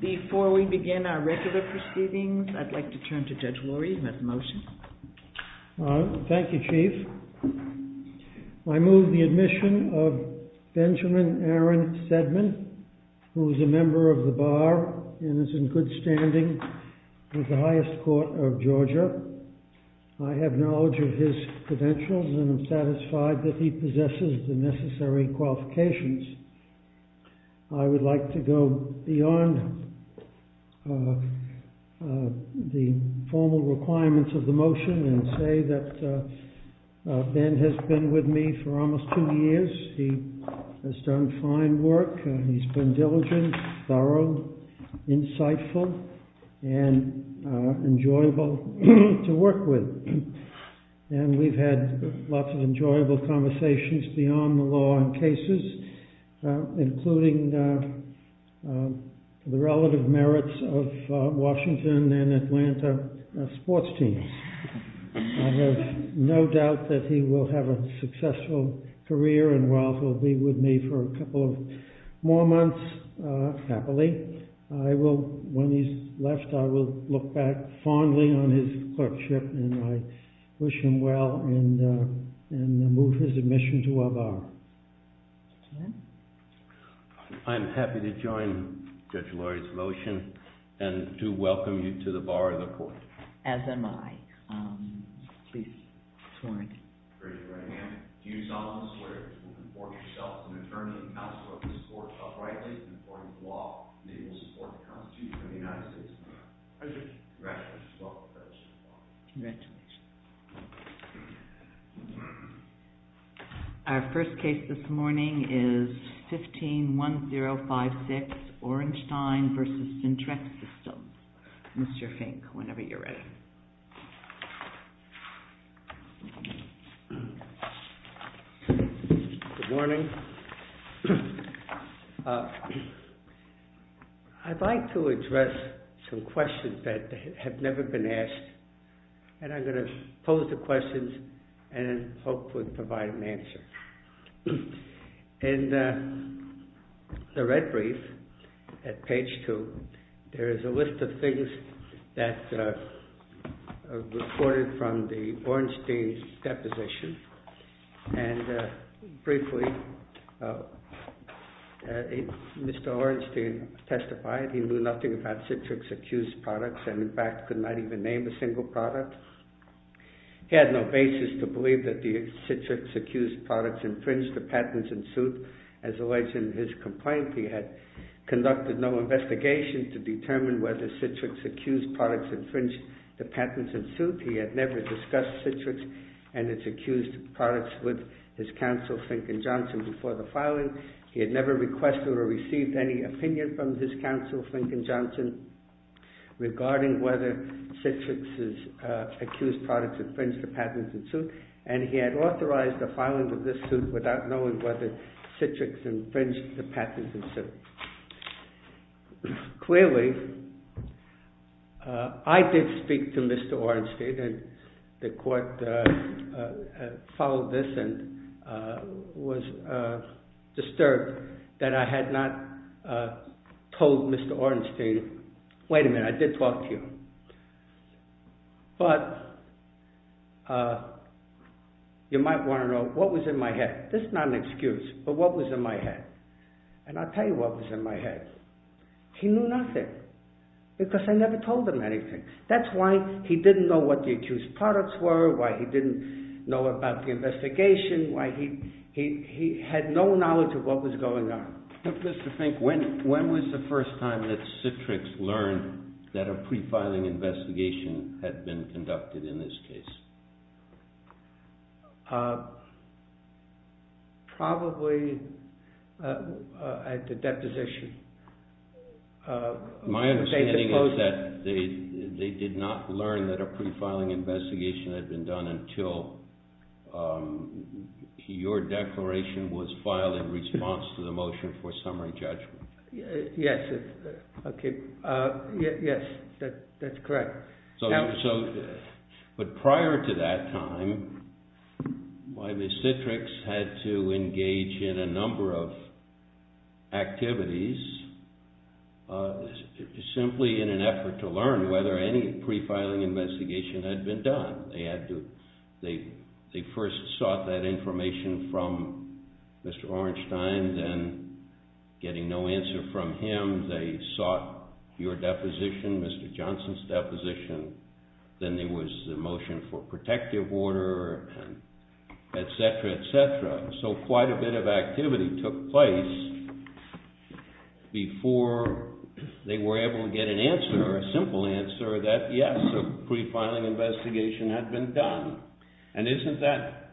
Before we begin our regular proceedings, I'd like to turn to Judge Lurie, who has the motion. Thank you, Chief. I move the admission of Benjamin Aaron Sedman, who is a member of the Bar and is in good standing with the highest court of Georgia. I have knowledge of his credentials and am satisfied that he possesses the necessary qualifications. I would like to go beyond the formal requirements of the motion and say that Ben has been with me for almost two years. He has done fine work and he's been diligent, thorough, insightful, and enjoyable to work with. And we've had lots of enjoyable conversations beyond the law on cases, including the relative merits of Washington and Atlanta sports teams. I have no doubt that he will have a successful career and will be with me for a couple of more months happily. Today, when he's left, I will look back fondly on his clerkship and I wish him well and move his admission to our Bar. I'm happy to join Judge Lurie's motion and to welcome you to the Bar of the Court. As am I. Please. Our first case this morning is 15-1056, Orenstein v. Syntrax Systems. Mr. Fink, whenever you're ready. Good morning. I'd like to address some questions that have never been asked and I'm going to pose the questions and hopefully provide an answer. In the red brief at page two, there is a list of things that are recorded from the Orenstein's deposition. And briefly, Mr. Orenstein testified he knew nothing about Syntrax-accused products and in fact could not even name a single product. He had no basis to believe that the Syntrax-accused products infringed the patents in suit. As alleged in his complaint, he had conducted no investigation to determine whether Syntrax-accused products infringed the patents in suit. He had never discussed Syntrax and its accused products with his counsel, Fink and Johnson, before the filing. He had never requested or received any opinion from his counsel, Fink and Johnson, regarding whether Syntrax-accused products infringed the patents in suit and he had authorized the filing of this suit without knowing whether Syntrax infringed the patents in suit. Clearly, I did speak to Mr. Orenstein and the court followed this and was disturbed that I had not told Mr. Orenstein, wait a minute, I did talk to you, but you might want to know what was in my head. This is not an excuse, but what was in my head? And I'll tell you what was in my head. He knew nothing because I never told him anything. That's why he didn't know what the accused products were, why he didn't know about the investigation, why he had no knowledge of what was going on. Mr. Fink, when was the first time that Syntrax learned that a pre-filing investigation had been conducted in this case? Probably at the deposition. My understanding is that they did not learn that a pre-filing investigation had been done until your declaration was filed in response to the motion for summary judgment. Yes, that's correct. But prior to that time, why Ms. Syntrax had to engage in a number of activities simply in an effort to learn whether any pre-filing investigation had been done. They first sought that information from Mr. Orenstein, then getting no answer from him, they sought your deposition, Mr. Johnson's deposition, then there was the motion for protective order, etc., etc. So quite a bit of activity took place before they were able to get an answer, a simple answer, that yes, a pre-filing investigation had been done. And isn't that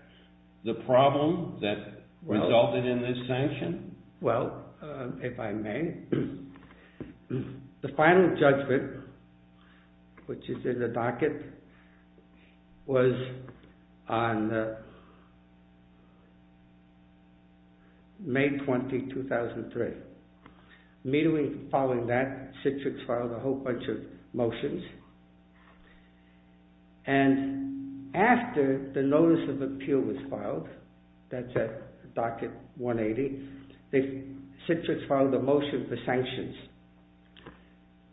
the problem that resulted in this sanction? Well, if I may, the final judgment, which is in the docket, was on May 20, 2003. Immediately following that, Syntrax filed a whole bunch of motions, and after the notice of appeal was filed, that's at docket 180, Syntrax filed a motion for sanctions.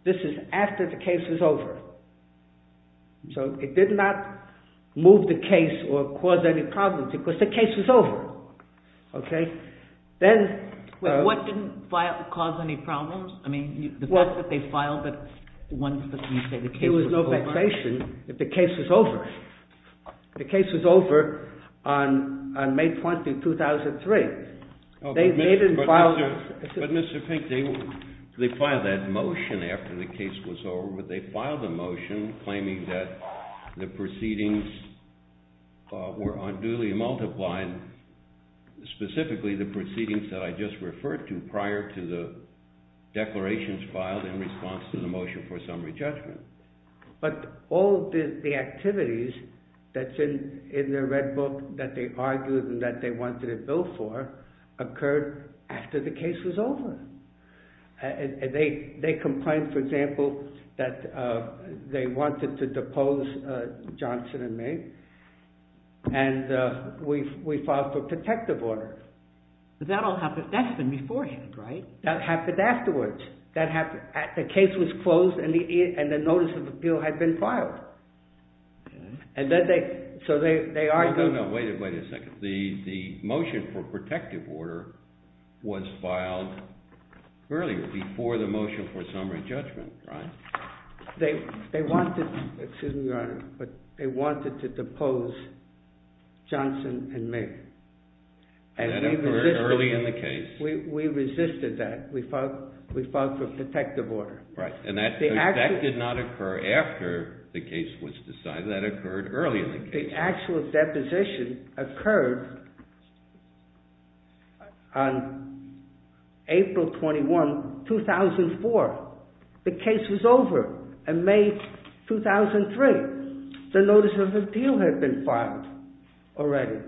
This is after the case was over. So it did not move the case or cause any problems, because the case was over. Then... What didn't cause any problems? The fact that they filed it once, but didn't say the case was over? There was no vexation if the case was over. The case was over on May 20, 2003. They didn't file... But Mr. Pink, they filed that motion after the case was over, but they filed a motion claiming that the proceedings were unduly multiplied, specifically the proceedings that I just referred to prior to the declarations filed in response to the motion for summary judgment. But all the activities that's in the Red Book that they argued and that they wanted a bill for occurred after the case was over. They complained, for example, that they wanted to depose Johnson and May, and we filed for protective order. But that's been beforehand, right? That happened afterwards. The case was closed, and the notice of appeal had been filed. So they argued... No, no, wait a second. The motion for protective order was filed earlier, before the motion for summary judgment, right? They wanted... Excuse me, Your Honor. But they wanted to depose Johnson and May. And that occurred early in the case? We resisted that. We filed for protective order. Right. And that did not occur after the case was decided. That occurred early in the case. The actual deposition occurred on April 21, 2004. The case was over in May 2003. The notice of appeal had been filed already.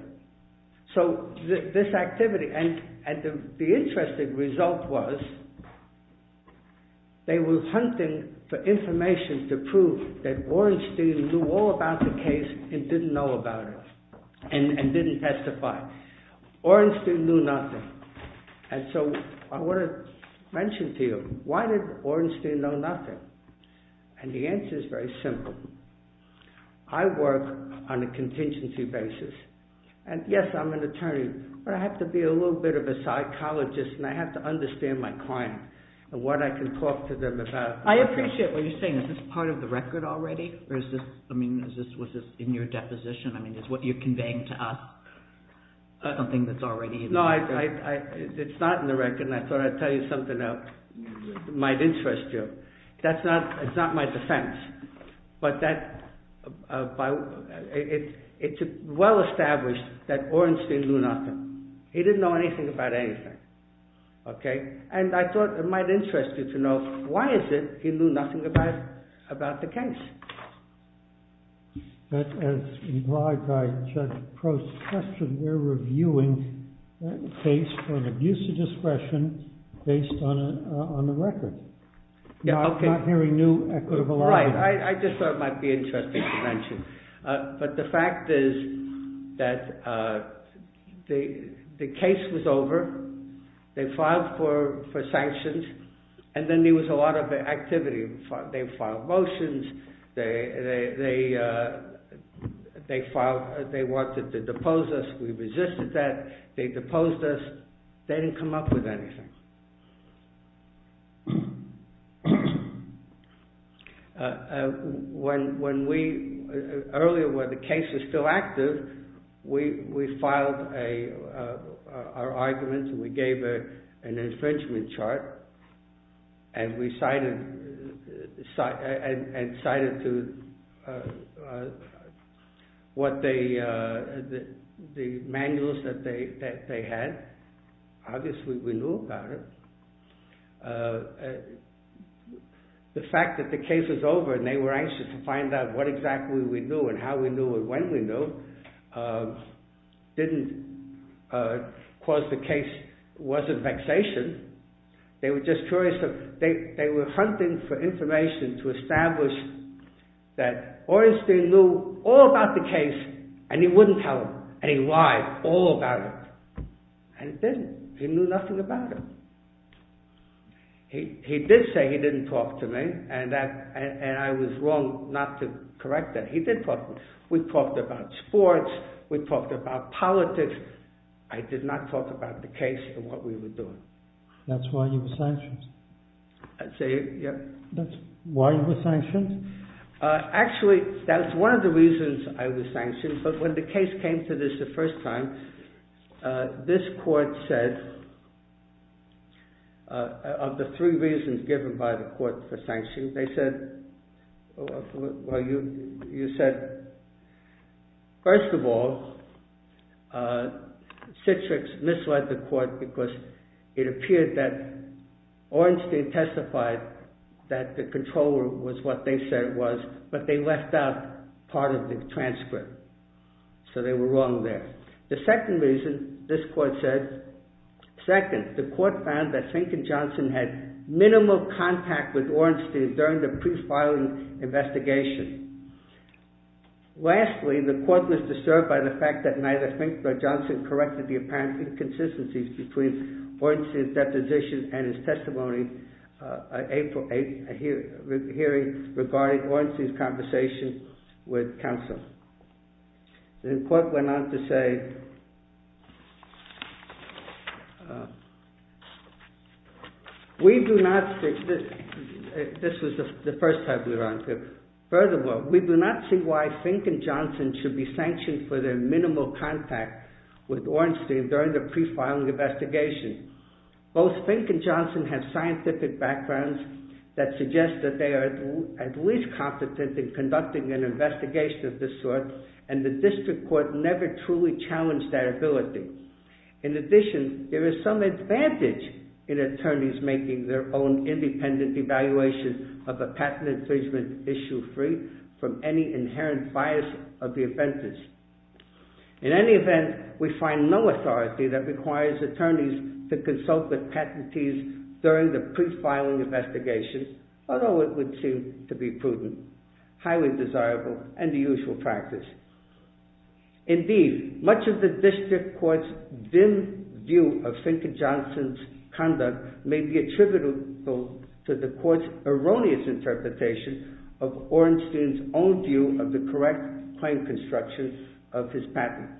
So this activity... And the interesting result was they were hunting for information to prove that Orenstein knew all about the case and didn't know about it, and didn't testify. Orenstein knew nothing. And so I want to mention to you, why did Orenstein know nothing? And the answer is very simple. I work on a contingency basis. And yes, I'm an attorney, but I have to be a little bit of a psychologist and I have to understand my client and what I can talk to them about. I appreciate what you're saying. Is this part of the record already? Or is this... I mean, was this in your deposition? I mean, is what you're conveying to us something that's already in the record? No, it's not in the record. And I thought I'd tell you something that might interest you. That's not... It's not my defense. But that... It's well established that Orenstein knew nothing. He didn't know anything about anything. Okay? And I thought it might interest you to know why is it he knew nothing about the case? But as implied by Judge Prost's question, we're reviewing that case for an abuse of discretion based on the record. Not hearing new equitable evidence. Right. I just thought it might be interesting to mention. But the fact is that the case was over. They filed for sanctions. And then there was a lot of activity. They filed motions. They wanted to depose us. We resisted that. They deposed us. They didn't come up with anything. When we... We filed our argument. We gave an infringement chart. And we cited... And cited to... What they... The manuals that they had. Obviously, we knew about it. The fact that the case was over and they were anxious to find out what exactly we knew and how we knew and when we knew didn't cause the case... Wasn't vexation. They were just curious. They were hunting for information to establish that Orenstein knew all about the case and he wouldn't tell them. And he lied all about it. And he didn't. He knew nothing about it. He did say he didn't talk to me. And I was wrong not to correct that. He did talk to me. We talked about sports. We talked about politics. I did not talk about the case and what we were doing. That's why you were sanctioned? I'd say, yeah. That's why you were sanctioned? Actually, that's one of the reasons I was sanctioned. But when the case came to this the first time, this court said... Of the three reasons given by the court for sanction, they said... Well, you said... First of all, Citrix misled the court because it appeared that Orenstein testified that the controller was what they said it was but they left out part of the transcript. So they were wrong there. The second reason, this court said... Second, the court found that Fink and Johnson had minimal contact with Orenstein during the pre-filing investigation. Lastly, the court was disturbed by the fact that neither Fink nor Johnson corrected the apparent inconsistencies between Orenstein's deposition and his testimony at a hearing regarding Orenstein's conversation with counsel. The court went on to say... We do not... This was the first time we were on here. Furthermore, we do not see why Fink and Johnson should be sanctioned for their minimal contact with Orenstein during the pre-filing investigation. Both Fink and Johnson have scientific backgrounds that suggest that they are at least competent in conducting an investigation of this sort and the district court never truly challenged their ability. In addition, there is some advantage in attorneys making their own independent evaluation of a patent infringement issue free from any inherent bias of the offenders. In any event, we find no authority that requires attorneys to consult with patentees during the pre-filing investigation although it would seem to be prudent, highly desirable, and the usual practice. Indeed, much of the district court's dim view of Fink and Johnson's conduct may be attributable to the court's erroneous interpretation of Orenstein's own view of the correct claim construction of his patent.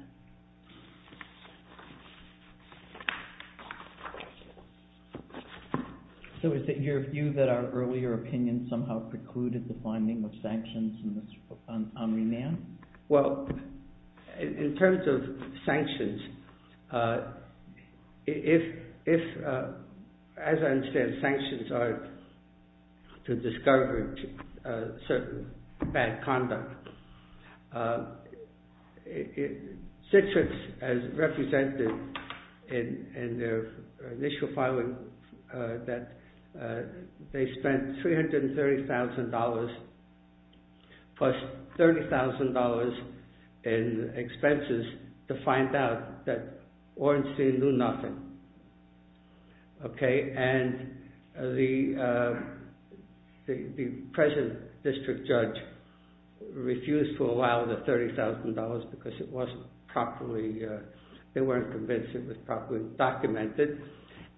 So is it your view that our earlier opinion somehow precluded the finding of sanctions on Omniman? Well, in terms of sanctions, if, as I understand, sanctions are to discourage certain bad conduct, Citrix has represented in their initial filing that they spent $330,000 plus $30,000 in expenses to find out that Orenstein knew nothing. And the present district judge refused to allow the $30,000 because it wasn't properly they weren't convinced it was properly documented.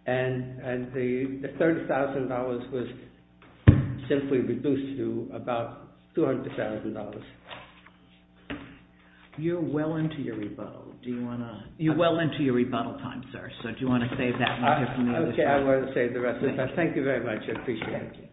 And the $30,000 was simply reduced to about $200,000. You're well into your rebuttal. You're well into your rebuttal time, sir. So do you want to save that? Okay, I won't save the rest of it. Thank you very much. I appreciate it.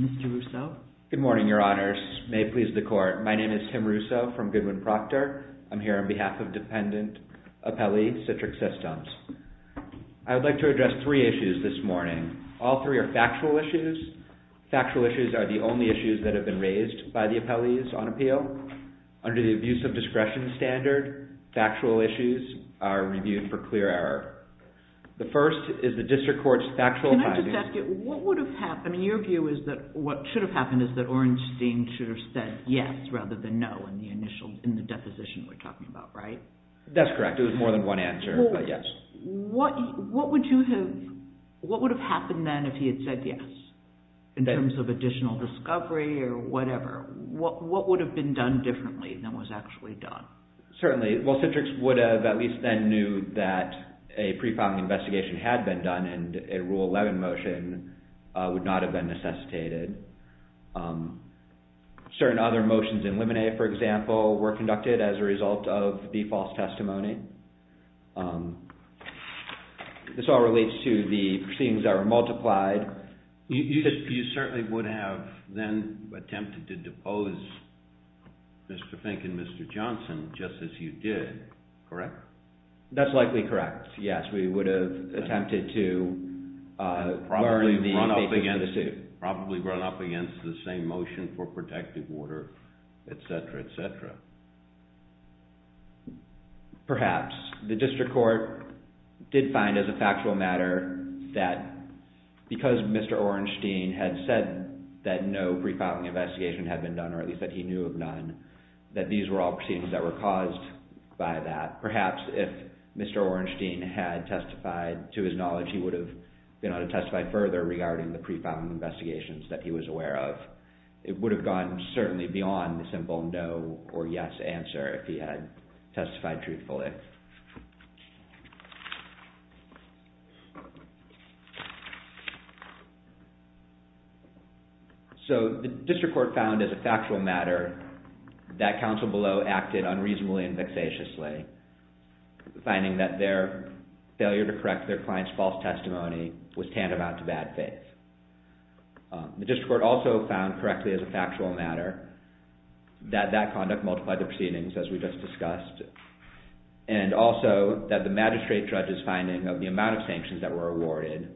Mr. Russo? Good morning, Your Honors. May it please the Court. My name is Tim Russo from Goodwin-Proctor. I'm here on behalf of Dependent Appellee, Citrix Systems. I would like to address three issues this morning. All three are factual issues. Factual issues are the only issues that have been raised by the appellees on appeal. Under the abuse of discretion standard, factual issues are reviewed for clear error. The first is the district court's factual filing. Can I just ask you, what would have happened in your view is that what should have happened is that Orenstein should have said yes rather than no in the initial, in the deposition we're talking about, right? That's correct. It was more than one answer, but yes. What would have happened then if he had said yes in terms of additional discovery or whatever? What would have been done differently than was actually done? Certainly. Well, Citrix would have at least then knew that a pre-filing investigation had been done and a Rule 11 motion would not have been necessitated. Certain other motions in Limine, for example, were conducted as a result of the false testimony. This all relates to the proceedings that were multiplied. You certainly would have then attempted to depose Mr. Fink and Mr. Johnson just as you did, correct? That's likely correct, yes. We would have attempted to learn the information from the suit. Probably run up against the same motion for protective order, etc., etc. Perhaps. The District Court did find as a factual matter that because Mr. Orenstein had said that no pre-filing investigation had been done, or at least that he knew of none, that these were all proceedings that were caused by that. Perhaps if Mr. Orenstein had testified to his knowledge, he would have been able to testify further regarding the pre-filing investigations that he was aware of. It would have gone certainly beyond the simple no or yes answer if he had testified truthfully. The District Court found as a factual matter that counsel below acted unreasonably and vexatiously, finding that their failure to correct their client's false testimony was tantamount to bad faith. The District Court also found correctly as a factual matter that that conduct multiplied the proceedings, as we just discussed, and also that the magistrate judge's finding of the amount of sanctions that were awarded,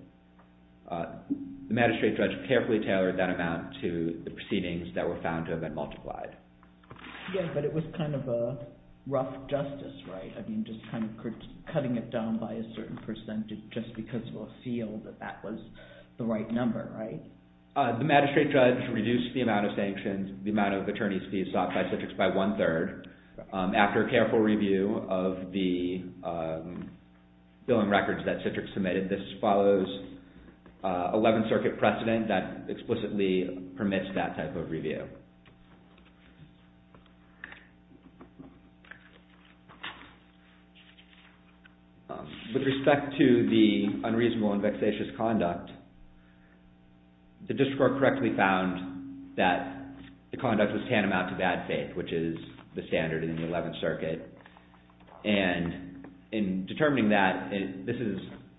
the magistrate judge carefully tailored that amount to the proceedings that were found to have been multiplied. Yes, but it was kind of a rough justice, right? I mean, just kind of cutting it down by a certain percentage just because attorneys will feel that that was the right number, right? The magistrate judge reduced the amount of sanctions, the amount of attorney's fees sought by Citrix by one-third. After careful review of the billing records that Citrix submitted, this follows 11th Circuit precedent that explicitly permits that type of review. Okay. With respect to the unreasonable and vexatious conduct, the District Court correctly found that the conduct was tantamount to bad faith, which is the standard in the 11th Circuit, and in determining that, this is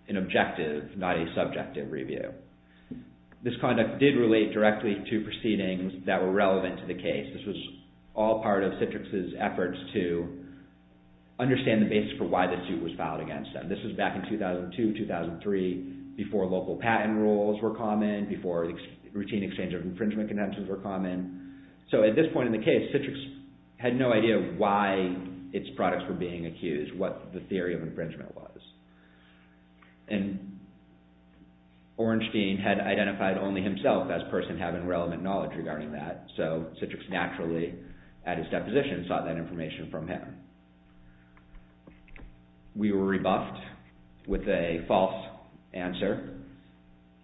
an objective, not a subjective review. This conduct did relate directly to proceedings that were relevant to the case. This was all part of Citrix's efforts to understand the basis for why the suit was filed against them. This was back in 2002, 2003, before local patent rules were common, before routine exchange of infringement condenses were common. At this point in the case, Citrix had no idea why its products were being accused, what the theory of infringement was. And Ornstein had identified only himself as person having relevant knowledge regarding that, so Citrix naturally, at his deposition, sought that information from him. We were rebuffed with a false answer,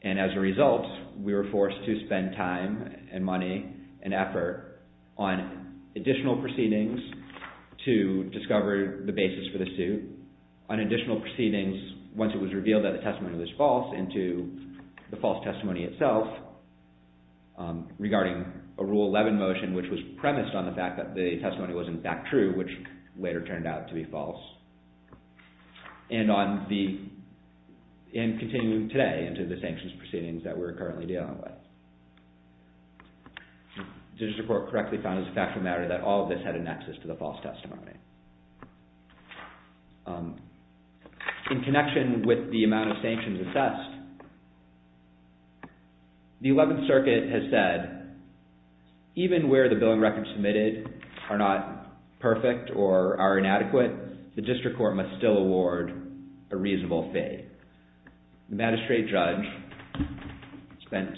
and as a result, we were forced to spend time and money and effort on additional proceedings to discover the basis for the suit. We were forced to continue proceedings once it was revealed that the testimony was false into the false testimony itself regarding a Rule 11 motion which was premised on the fact that the testimony was in fact true, which later turned out to be false. And continuing today into the sanctions proceedings that we're currently dealing with. The District Court correctly found as a factual matter that all of this had a nexus to the false testimony. In connection with the amount of sanctions assessed, the 11th Circuit has said even where the billing records submitted are not perfect or are inadequate, the District Court must still award a reasonable fee. The magistrate judge spent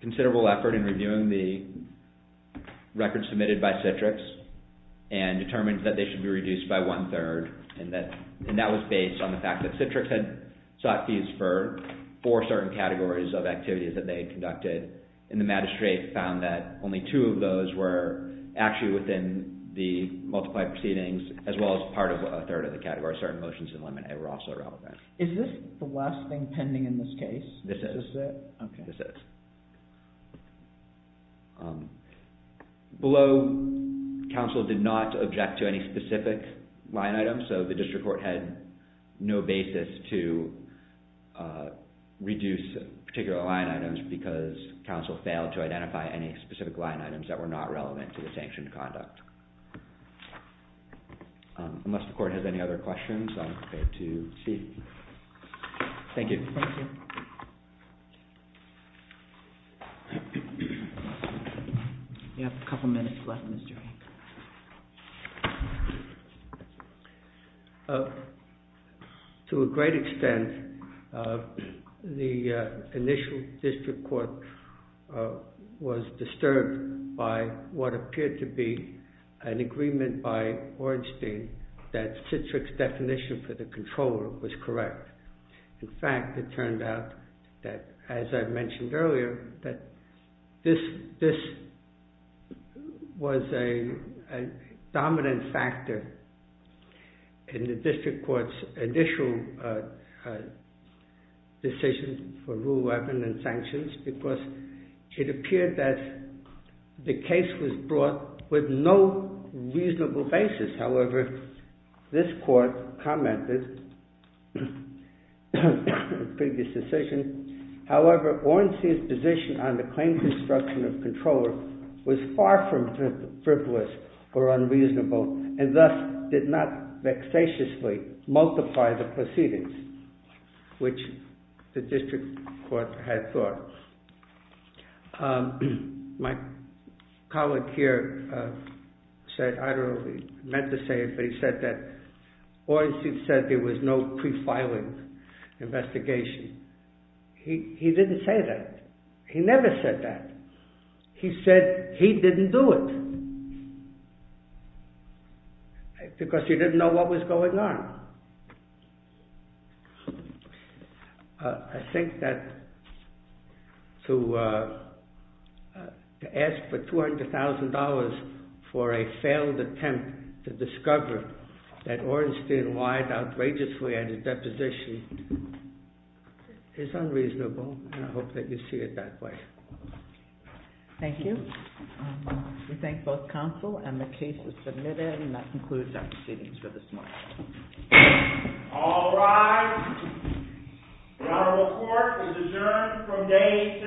considerable effort in reviewing the records submitted by Citrix and determined that they should be reduced by one-third and that was based on the fact that Citrix had sought fees for four certain categories of activities that they had conducted and the magistrate found that only two of those were actually within the multiplied proceedings as well as part of a third of the category. Certain motions were also relevant. Is this the last thing pending in this case? This is. Below counsel did not object to any specific line items so the District Court had no basis to reduce particular line items because counsel failed to identify any specific line items that were not relevant to the sanctioned conduct. Unless the Court has any other questions I'm prepared to see. Thank you. To a great extent the initial District Court was disturbed by what appeared to be an agreement by Ornstein that Citrix's definition for the controller was correct. In fact, it turned out that, as I mentioned earlier, that this was a dominant factor in the District Court's initial decision for rule 11 and sanctions because it appeared that the case was brought with no reasonable basis. However, this Court commented in the previous decision, however, Ornstein's position on the claims instruction of the controller was far from frivolous or unreasonable and thus did not vexatiously multiply the proceedings, which the District Court had thought. My colleague here said, I don't know if he meant to say it, but he said that Ornstein said there was no pre-filing investigation. He didn't say that. He never said that. He said he didn't do it because he didn't know what was going on. I think that to ask for $200,000 for a failed attempt to discover that Ornstein lied outrageously at a deposition is unreasonable and I hope that you see it that way. Thank you. We thank both counsel and the case is submitted and that concludes our proceedings for this morning. All rise. The Honorable Court is adjourned from day to day. Thank you.